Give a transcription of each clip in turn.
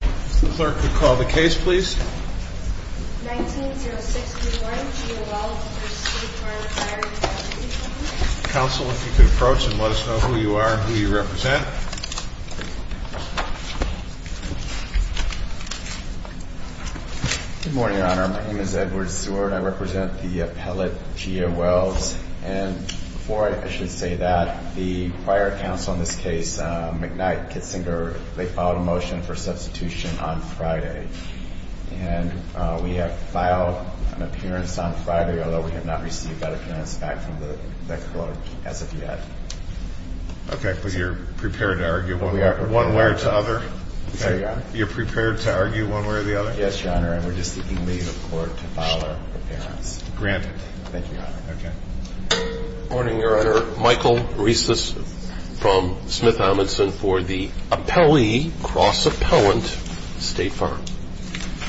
Clerk, would you call the case, please? 19-06-31, G.A. Wells v. State Farm Fire & Casualty Co. Counsel, if you could approach and let us know who you are and who you represent. Good morning, Your Honor. My name is Edward Seward. I represent the appellate G.A. Wells. And before I should say that, the prior counsel in this case, McKnight, Kitzinger, they filed a motion for substitution on Friday. And we have filed an appearance on Friday, although we have not received that appearance back from the clerk as of yet. Okay. But you're prepared to argue one way or the other? Yes, Your Honor. You're prepared to argue one way or the other? Yes, Your Honor. And we're just seeking leave of court to file our appearance. Granted. Thank you, Your Honor. Okay. Good morning, Your Honor. Michael Rieses from Smith Amundson for the appellee, cross-appellant, State Farm.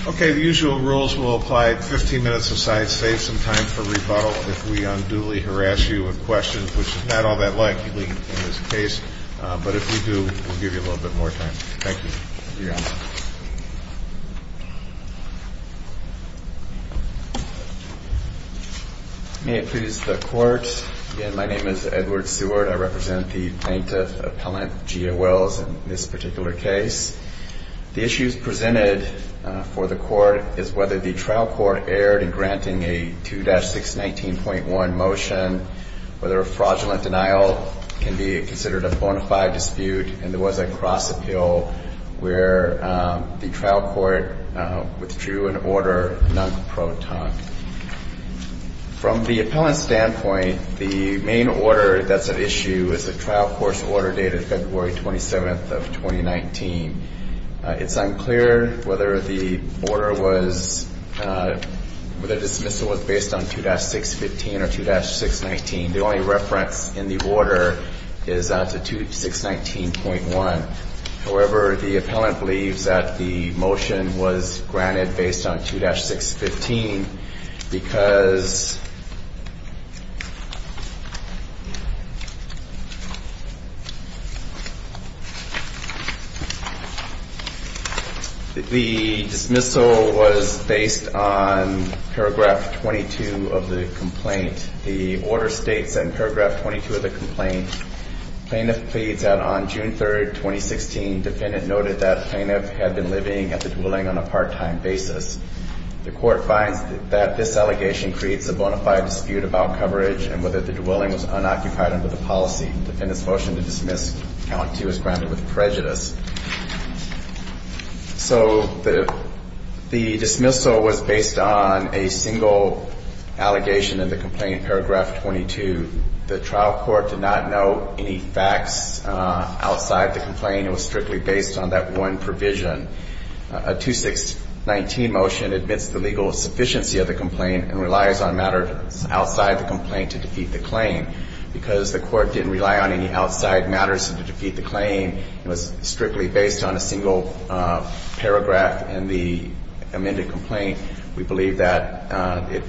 Okay. The usual rules will apply 15 minutes aside. Save some time for rebuttal if we unduly harass you with questions, which is not all that likely in this case. But if we do, we'll give you a little bit more time. Thank you. You're welcome. May it please the Court, again, my name is Edward Seward. I represent the plaintiff appellant, Gia Wells, in this particular case. The issues presented for the Court is whether the trial court erred in granting a 2-619.1 motion, whether a fraudulent denial can be considered a bona fide dispute, and there was a cross-appeal where the trial court withdrew an order non-pro ton. From the appellant's standpoint, the main order that's at issue is the trial court's order dated February 27th of 2019. It's unclear whether the order was, whether the dismissal was based on 2-615 or 2-619. The only reference in the order is to 2-619.1. However, the appellant believes that the motion was granted based on 2-615 because The dismissal was based on paragraph 22 of the complaint. The order states in paragraph 22 of the complaint, Plaintiff pleads that on June 3rd, 2016, defendant noted that plaintiff had been living at the dwelling on a part-time basis. The court finds that this allegation creates a bona fide dispute about coverage and whether the dwelling was unoccupied under the policy. Defendant's motion to dismiss count 2 is grounded with prejudice. So the dismissal was based on a single allegation in the complaint, paragraph 22. The trial court did not note any facts outside the complaint. It was strictly based on that one provision. A 2-619 motion admits the legal sufficiency of the complaint and relies on matters outside the complaint to defeat the claim. Because the court didn't rely on any outside matters to defeat the claim, it was strictly based on a single paragraph in the amended complaint. We believe that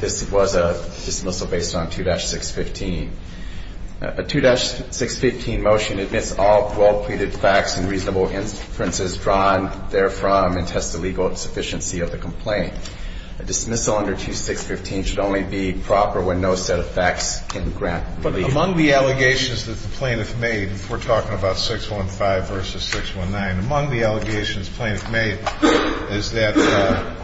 this was a dismissal based on 2-615. A 2-615 motion admits all well-pleaded facts and reasonable inferences drawn therefrom and tests the legal sufficiency of the complaint. A dismissal under 2-615 should only be proper when no set of facts can grant relief. Among the allegations that the plaintiff made, we're talking about 615 versus 619, among the allegations plaintiff made is that,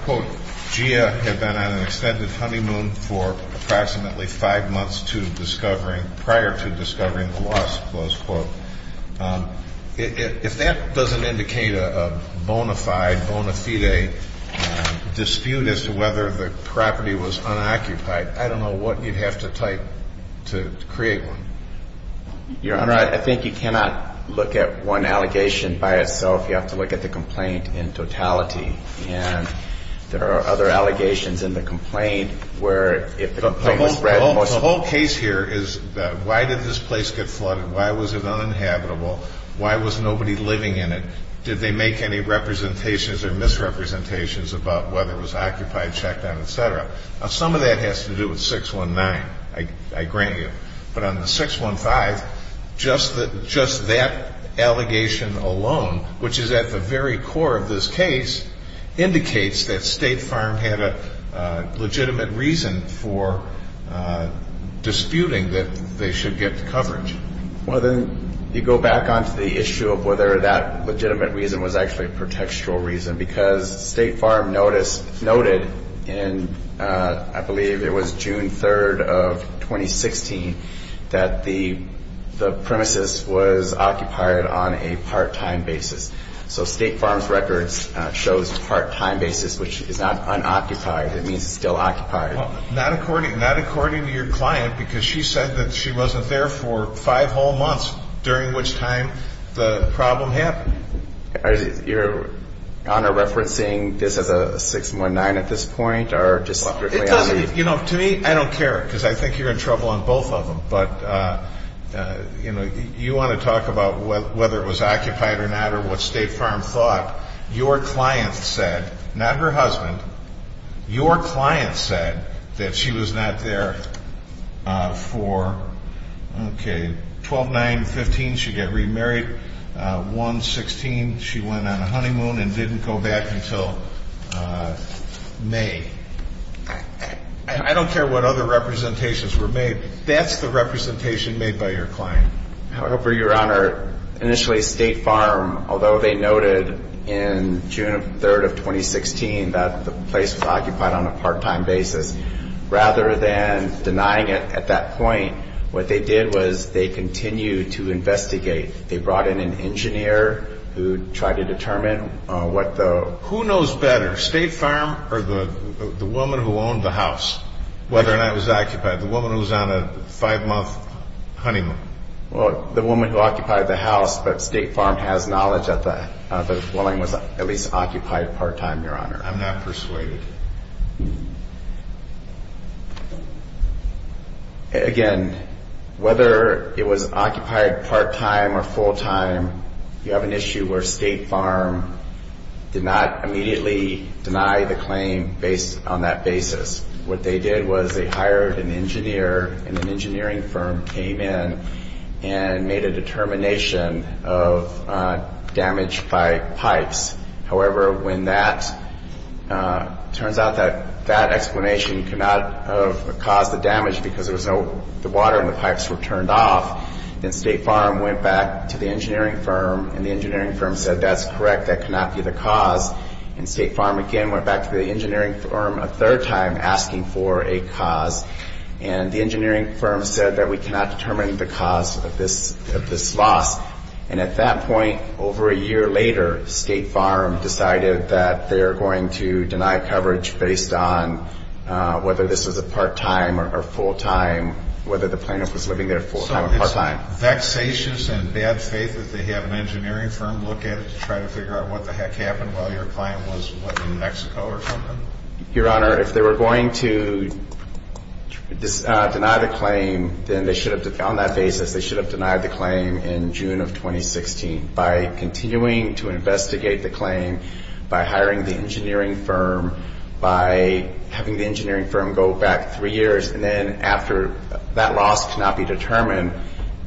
quote, GIA had been on an extended honeymoon for approximately five months prior to discovering the loss, close quote. If that doesn't indicate a bona fide dispute as to whether the property was unoccupied, I don't know what you'd have to type to create one. Your Honor, I think you cannot look at one allegation by itself. You have to look at the complaint in totality. And there are other allegations in the complaint where if the complaint was spread. The whole case here is why did this place get flooded? Why was it uninhabitable? Why was nobody living in it? Did they make any representations or misrepresentations about whether it was occupied, checked on, et cetera? Now, some of that has to do with 619, I grant you. But on the 615, just that allegation alone, which is at the very core of this case, indicates that State Farm had a legitimate reason for disputing that they should get coverage. Well, then you go back on to the issue of whether that legitimate reason was actually a pretextual reason, because State Farm noted in, I believe it was June 3rd of 2016, that the premises was occupied on a part-time basis. So State Farm's records shows part-time basis, which is not unoccupied. It means it's still occupied. Well, not according to your client, because she said that she wasn't there for five whole months, during which time the problem happened. Are you referencing this as a 619 at this point? It doesn't, you know, to me, I don't care, because I think you're in trouble on both of them. But, you know, you want to talk about whether it was occupied or not or what State Farm thought. Your client said, not her husband, your client said that she was not there for, okay, 12, 9, 15, she'd get remarried, 1, 16, she went on a honeymoon and didn't go back until May. I don't care what other representations were made. That's the representation made by your client. However, Your Honor, initially State Farm, although they noted in June 3rd of 2016 that the place was occupied on a part-time basis, rather than denying it at that point, what they did was they continued to investigate. They brought in an engineer who tried to determine what the... Who knows better, State Farm or the woman who owned the house, whether or not it was occupied, the woman who was on a five-month honeymoon? Well, the woman who occupied the house, but State Farm has knowledge that the dwelling was at least occupied part-time, Your Honor. I'm not persuaded. Again, whether it was occupied part-time or full-time, you have an issue where State Farm did not immediately deny the claim based on that basis. What they did was they hired an engineer and an engineering firm came in and made a determination of damage by pipes. However, when that... It turns out that that explanation could not have caused the damage because there was no... The water in the pipes were turned off, and State Farm went back to the engineering firm, and the engineering firm said that's correct, that could not be the cause. And State Farm again went back to the engineering firm a third time asking for a cause, and the engineering firm said that we cannot determine the cause of this loss. And at that point, over a year later, State Farm decided that they're going to deny coverage based on whether this was a part-time or full-time, whether the plaintiff was living there full-time or part-time. So it's vexatious and bad faith that they have an engineering firm look at it to try to figure out what the heck happened while your client was living in Mexico or something? Your Honor, if they were going to deny the claim, then they should have... By continuing to investigate the claim, by hiring the engineering firm, by having the engineering firm go back three years, and then after that loss could not be determined,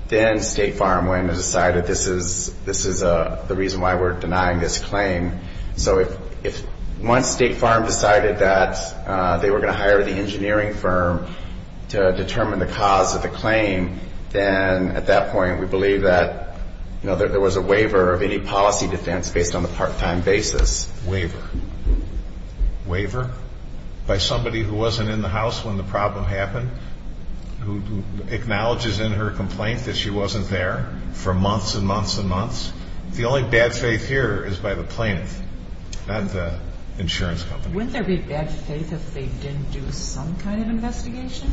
then State Farm went and decided this is the reason why we're denying this claim. So if once State Farm decided that they were going to hire the engineering firm to determine the cause of the claim, then at that point we believe that there was a waiver of any policy defense based on the part-time basis. Waiver? Waiver by somebody who wasn't in the house when the problem happened, who acknowledges in her complaint that she wasn't there for months and months and months? The only bad faith here is by the plaintiff, not the insurance company. Wouldn't there be bad faith if they didn't do some kind of investigation?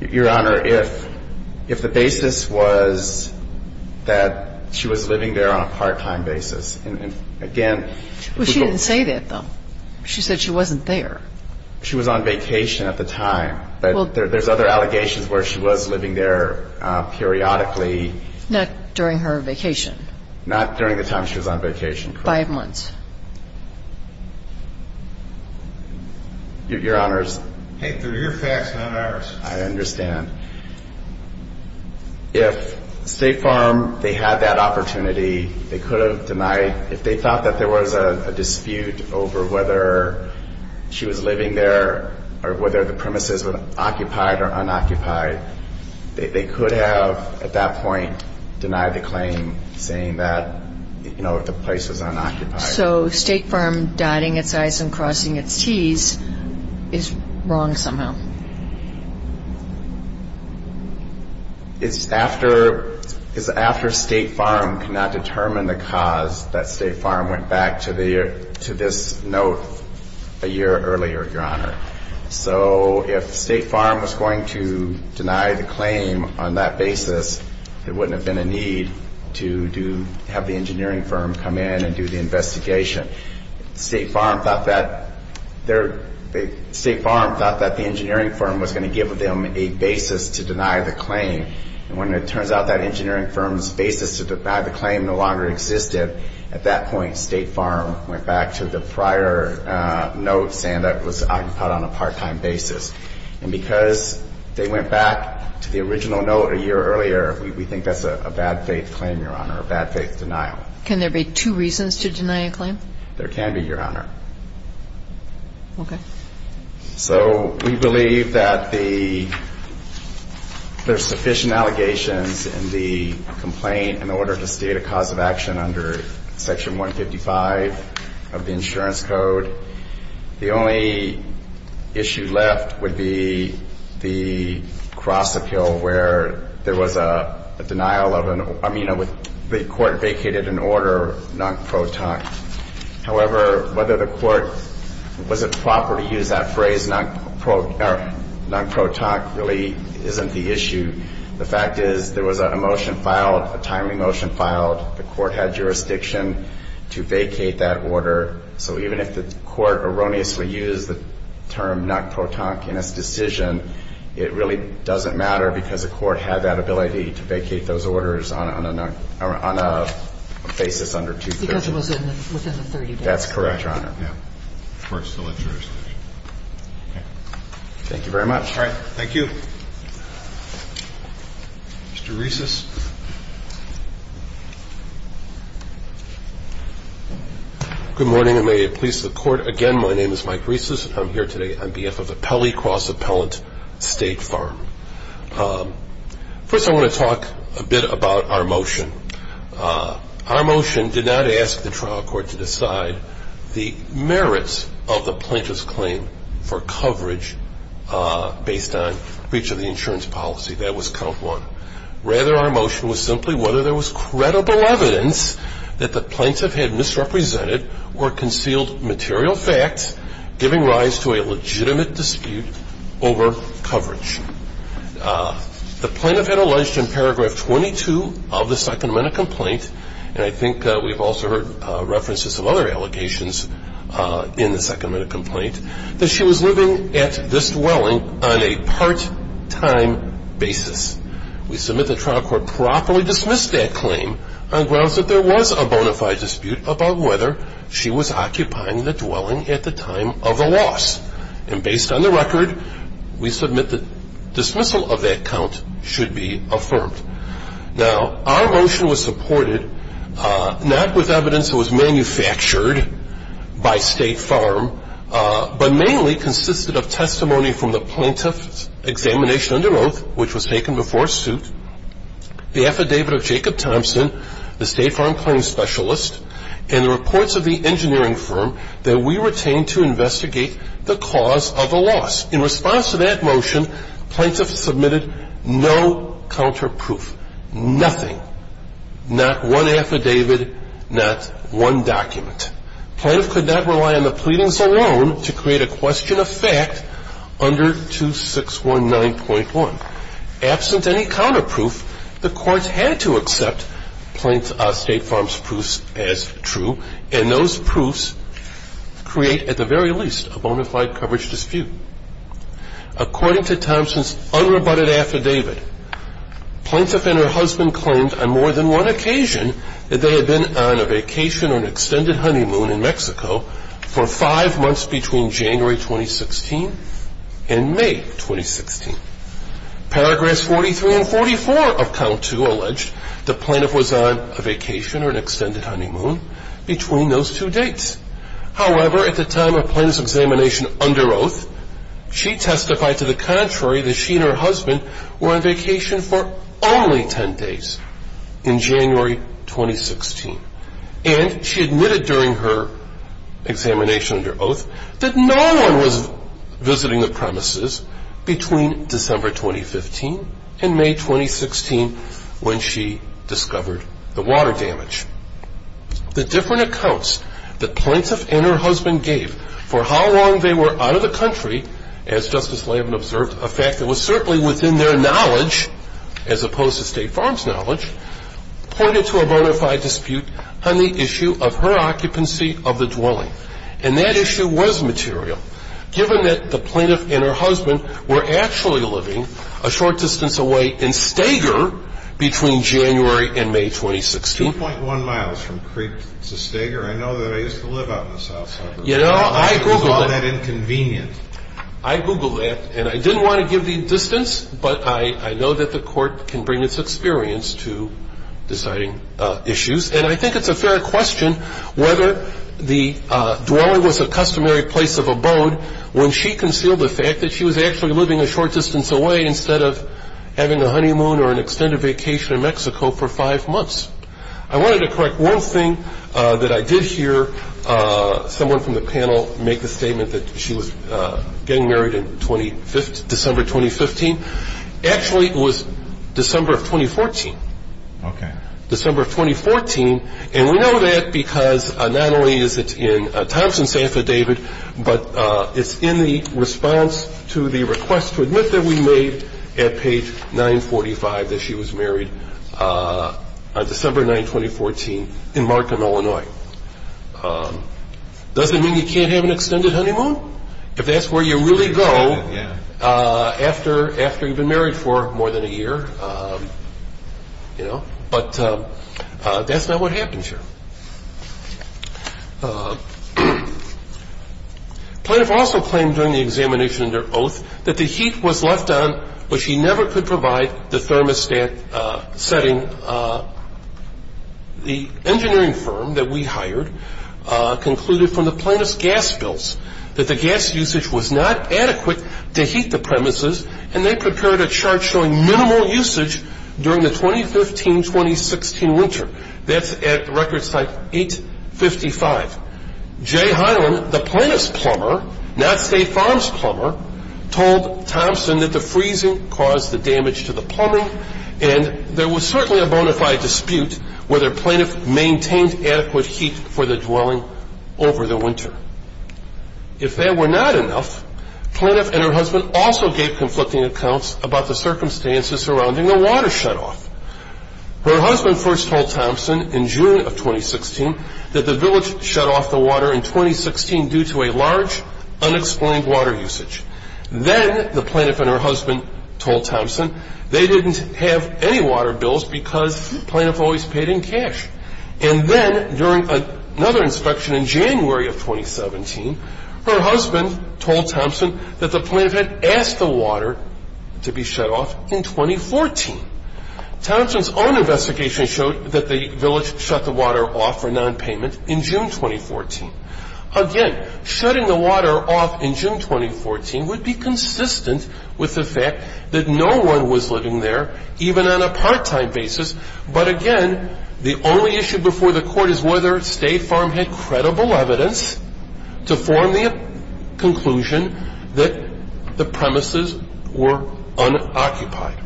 Your Honor, if the basis was that she was living there on a part-time basis, and again... Well, she didn't say that, though. She said she wasn't there. She was on vacation at the time. But there's other allegations where she was living there periodically. Not during her vacation. Not during the time she was on vacation. Five months. Your Honors. Hey, they're your facts, not ours. I understand. If State Farm, they had that opportunity, they could have denied. If they thought that there was a dispute over whether she was living there or whether the premises were occupied or unoccupied, they could have, at that point, denied the claim, saying that the place was unoccupied. So State Farm dotting its I's and crossing its T's is wrong somehow? It's after State Farm could not determine the cause that State Farm went back to this note a year earlier, Your Honor. So if State Farm was going to deny the claim on that basis, there wouldn't have been a need to have the engineering firm come in and do the investigation. State Farm thought that the engineering firm was going to give them a basis to deny the claim. And when it turns out that engineering firm's basis to deny the claim no longer existed, at that point State Farm went back to the prior note saying that it was occupied on a part-time basis. And because they went back to the original note a year earlier, we think that's a bad-faith claim, Your Honor, a bad-faith denial. Can there be two reasons to deny a claim? There can be, Your Honor. Okay. So we believe that there's sufficient allegations in the complaint in order to state a cause of action under Section 155 of the Insurance Code. The only issue left would be the cross-appeal where there was a denial of an order, I mean, the court vacated an order non-pro tonic. However, whether the court was it proper to use that phrase non-pro tonic really isn't the issue. The fact is there was a motion filed, a timely motion filed. The court had jurisdiction to vacate that order. So even if the court erroneously used the term non-pro tonic in its decision, it really doesn't matter because the court had that ability to vacate those orders on a basis under Section 230. Because it was within the 30 days. That's correct, Your Honor. Yeah. The court still had jurisdiction. Okay. Thank you very much. All right. Thank you. Mr. Reisses. Good morning, and may it please the Court. Again, my name is Mike Reisses. I'm here today on behalf of the Pelley Cross Appellant State Farm. First, I want to talk a bit about our motion. Our motion did not ask the trial court to decide the merits of the plaintiff's claim for coverage based on breach of the insurance policy. That was count one. Rather, our motion was simply whether there was credible evidence that the plaintiff had misrepresented or concealed material facts giving rise to a legitimate dispute over coverage. The plaintiff had alleged in Paragraph 22 of the Second Amendment complaint, and I think we've also heard references of other allegations in the Second Amendment complaint, that she was living at this dwelling on a part-time basis. We submit that the trial court properly dismissed that claim on grounds that there was a bona fide dispute about whether she was occupying the dwelling at the time of the loss. And based on the record, we submit that dismissal of that count should be affirmed. Now, our motion was supported not with evidence that was manufactured by State Farm, but mainly consisted of testimony from the plaintiff's examination under oath, which was taken before suit, the affidavit of Jacob Thompson, the State Farm claim specialist, and the reports of the engineering firm that we retained to investigate the cause of the loss. In response to that motion, plaintiffs submitted no counterproof, nothing, not one affidavit, not one document. But plaintiff could not rely on the pleadings alone to create a question of fact under 2619.1. Absent any counterproof, the courts had to accept State Farm's proofs as true, and those proofs create at the very least a bona fide coverage dispute. According to Thompson's unrebutted affidavit, plaintiff and her husband claimed on more than one occasion that they had been on a vacation or an extended honeymoon in Mexico for five months between January 2016 and May 2016. Paragraphs 43 and 44 of count two allege the plaintiff was on a vacation or an extended honeymoon between those two dates. However, at the time of plaintiff's examination under oath, she testified to the contrary that she and her husband were on vacation for only 10 days. In January 2016. And she admitted during her examination under oath that no one was visiting the premises between December 2015 and May 2016 when she discovered the water damage. The different accounts that plaintiff and her husband gave for how long they were out of the country, as Justice Lavin observed, a fact that was certainly within their knowledge, as opposed to State Farm's knowledge, pointed to a bona fide dispute on the issue of her occupancy of the dwelling. And that issue was material, given that the plaintiff and her husband were actually living a short distance away in Stager between January and May 2016. 2.1 miles from Creek to Stager. I know that I used to live out in the South Side. You know, I Googled it. I Googled that. And I didn't want to give the distance, but I know that the Court can bring its experience to deciding issues. And I think it's a fair question whether the dweller was a customary place of abode when she concealed the fact that she was actually living a short distance away instead of having a honeymoon or an extended vacation in Mexico for five months. I wanted to correct one thing that I did hear someone from the panel make the statement that she was getting married in December 2015. Actually, it was December of 2014. Okay. December of 2014. And we know that because not only is it in Thompson's affidavit, but it's in the response to the request to admit that we made at page 945 that she was married on December 9, 2014 in Markham, Illinois. Does it mean you can't have an extended honeymoon? If that's where you really go after you've been married for more than a year, you know. But that's not what happens here. Plaintiff also claimed during the examination of their oath that the heat was left on, but she never could provide the thermostat setting. The engineering firm that we hired concluded from the plaintiff's gas bills that the gas usage was not adequate to heat the premises, and they prepared a chart showing minimal usage during the 2015-2016 winter. That's at record site 855. Jay Hyland, the plaintiff's plumber, not State Farms' plumber, told Thompson that the freezing caused the damage to the plumbing, and there was certainly a bona fide dispute whether plaintiff maintained adequate heat for the dwelling over the winter. If that were not enough, plaintiff and her husband also gave conflicting accounts about the circumstances surrounding the water shutoff. Her husband first told Thompson in June of 2016 that the village shut off the water in 2016 due to a large, unexplained water usage. Then the plaintiff and her husband told Thompson they didn't have any water bills because plaintiff always paid in cash. And then during another inspection in January of 2017, her husband told Thompson that the plaintiff had asked the water to be shut off in 2014. Thompson's own investigation showed that the village shut the water off for nonpayment in June 2014. Again, shutting the water off in June 2014 would be consistent with the fact that no one was living there, even on a part-time basis, but again, the only issue before the court is whether State Farm had credible evidence to form the conclusion that the premises were unoccupied.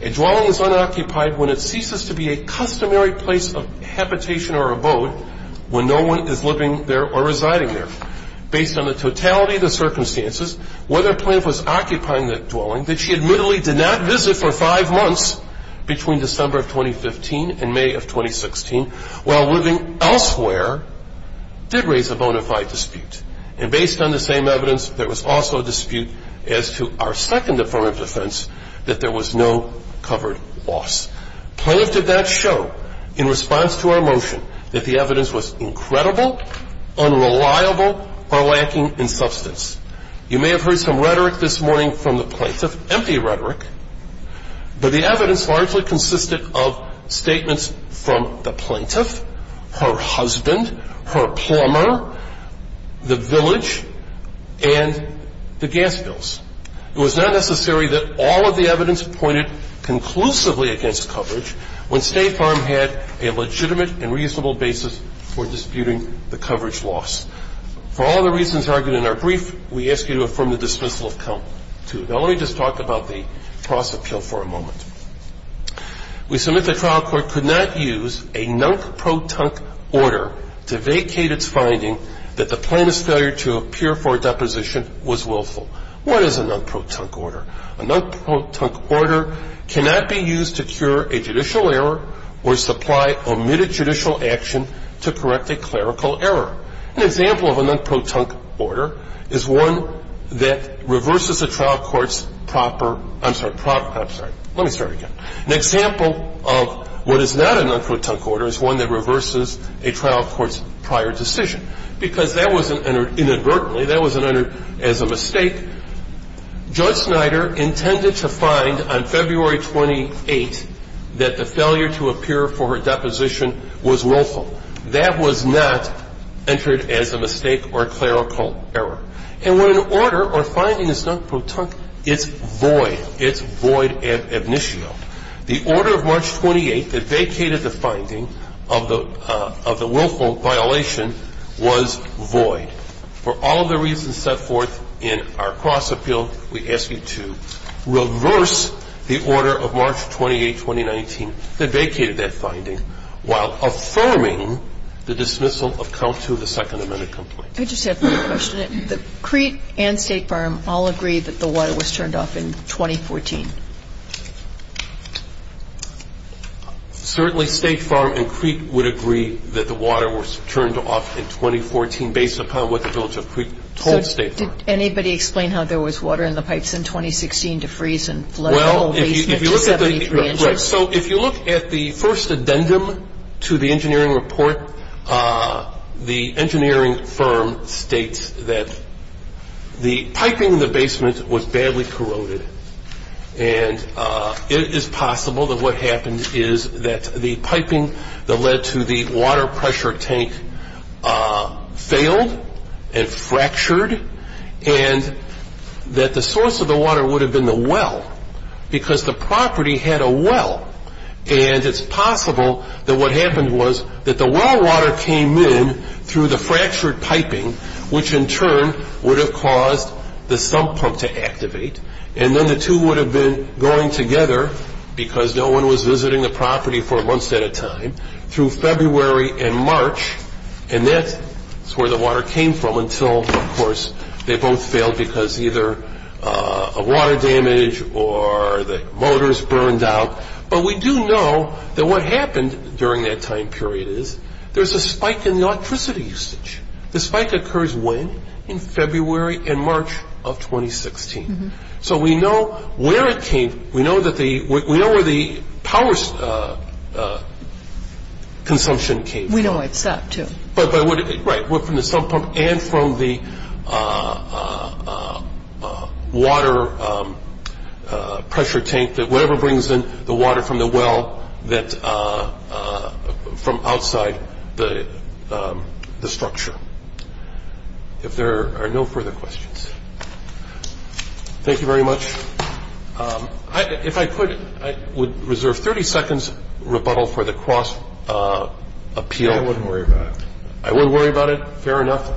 A dwelling is unoccupied when it ceases to be a customary place of habitation or abode when no one is living there or residing there. Based on the totality of the circumstances, whether plaintiff was occupying the dwelling that she admittedly did not visit for five months between December of 2015 and May of 2016 while living elsewhere did raise a bona fide dispute. And based on the same evidence, there was also a dispute as to our second affirmative defense that there was no covered loss. Plaintiff did not show in response to our motion that the evidence was incredible, unreliable, or lacking in substance. You may have heard some rhetoric this morning from the plaintiff, empty rhetoric, but the evidence largely consisted of statements from the plaintiff, her husband, her plumber, the village, and the gas bills. It was not necessary that all of the evidence pointed conclusively against coverage when State Farm had a legitimate and reasonable basis for disputing the coverage loss. For all the reasons argued in our brief, we ask you to affirm the dismissal of count two. Now, let me just talk about the cross appeal for a moment. We submit the trial court could not use a non-protonc order to vacate its finding that the plaintiff's failure to appear for a deposition was willful. What is a non-protonc order? A non-protonc order cannot be used to cure a judicial error or supply omitted judicial action to correct a clerical error. An example of a non-protonc order is one that reverses a trial court's proper – I'm sorry, proper – I'm sorry. Let me start again. An example of what is not a non-protonc order is one that reverses a trial court's prior decision. Because that wasn't entered inadvertently. That wasn't entered as a mistake. Judge Snyder intended to find on February 28th that the failure to appear for her deposition was willful. That was not entered as a mistake or clerical error. And when an order or finding is non-protonc, it's void. It's void ad initio. The order of March 28th that vacated the finding of the willful violation was void. For all of the reasons set forth in our cross appeal, we ask you to reverse the order of March 28, 2019, that vacated that finding while affirming the dismissal of count two of the Second Amendment complaint. I just have one question. Did Crete and State Farm all agree that the water was turned off in 2014? Certainly State Farm and Crete would agree that the water was turned off in 2014 based upon what the village of Crete told State Farm. So did anybody explain how there was water in the pipes in 2016 to freeze and flood the whole basement to 73 inches? So if you look at the first addendum to the engineering report, the engineering firm states that the piping in the basement was badly corroded. And it is possible that what happened is that the piping that led to the water pressure tank failed and fractured and that the source of the water would have been the well, because the property had a well. And it's possible that what happened was that the well water came in through the fractured piping, which in turn would have caused the sump pump to activate. And then the two would have been going together, because no one was visiting the property for months at a time, through February and March, and that's where the water came from until, of course, they both failed because either a water damage or the motors burned out. But we do know that what happened during that time period is there's a spike in the electricity usage. The spike occurs when? In February and March of 2016. So we know where it came, we know where the power consumption came from. We know it's that too. Right, from the sump pump and from the water pressure tank, that whatever brings in the water from the well from outside the structure. If there are no further questions. Thank you very much. If I could, I would reserve 30 seconds rebuttal for the cross appeal. I wouldn't worry about it. I wouldn't worry about it. Fair enough.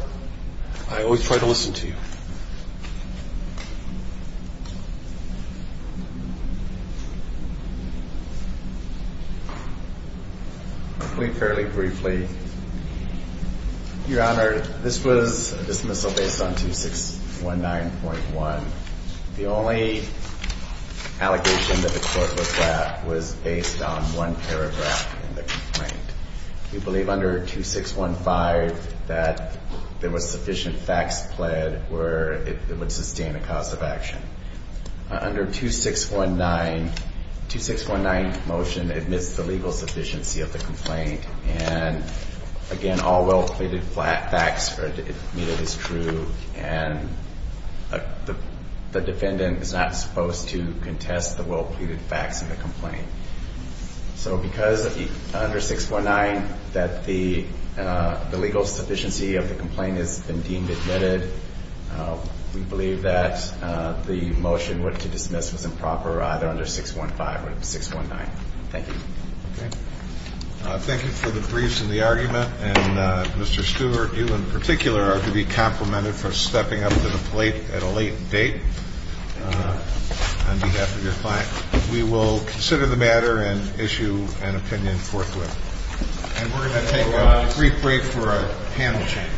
I always try to listen to you. Fairly briefly. Your Honor, this was a dismissal based on 2619.1. The only allegation that the court was at was based on one paragraph in the complaint. We believe under 2615 that there was sufficient facts pled where it would sustain a cause of action. Under 2619, the 2619 motion admits the legal sufficiency of the complaint. And again, all well pleaded facts are admitted as true. And the defendant is not supposed to contest the well pleaded facts in the complaint. So because under 2619 that the legal sufficiency of the complaint has been deemed admitted, we believe that the motion to dismiss was improper either under 615 or 619. Thank you. Thank you for the briefs and the argument. And Mr. Stewart, you in particular are to be complimented for stepping up to the plate at a late date on behalf of your client. We will consider the matter and issue an opinion forthwith. And we're going to take a brief break for a panel change.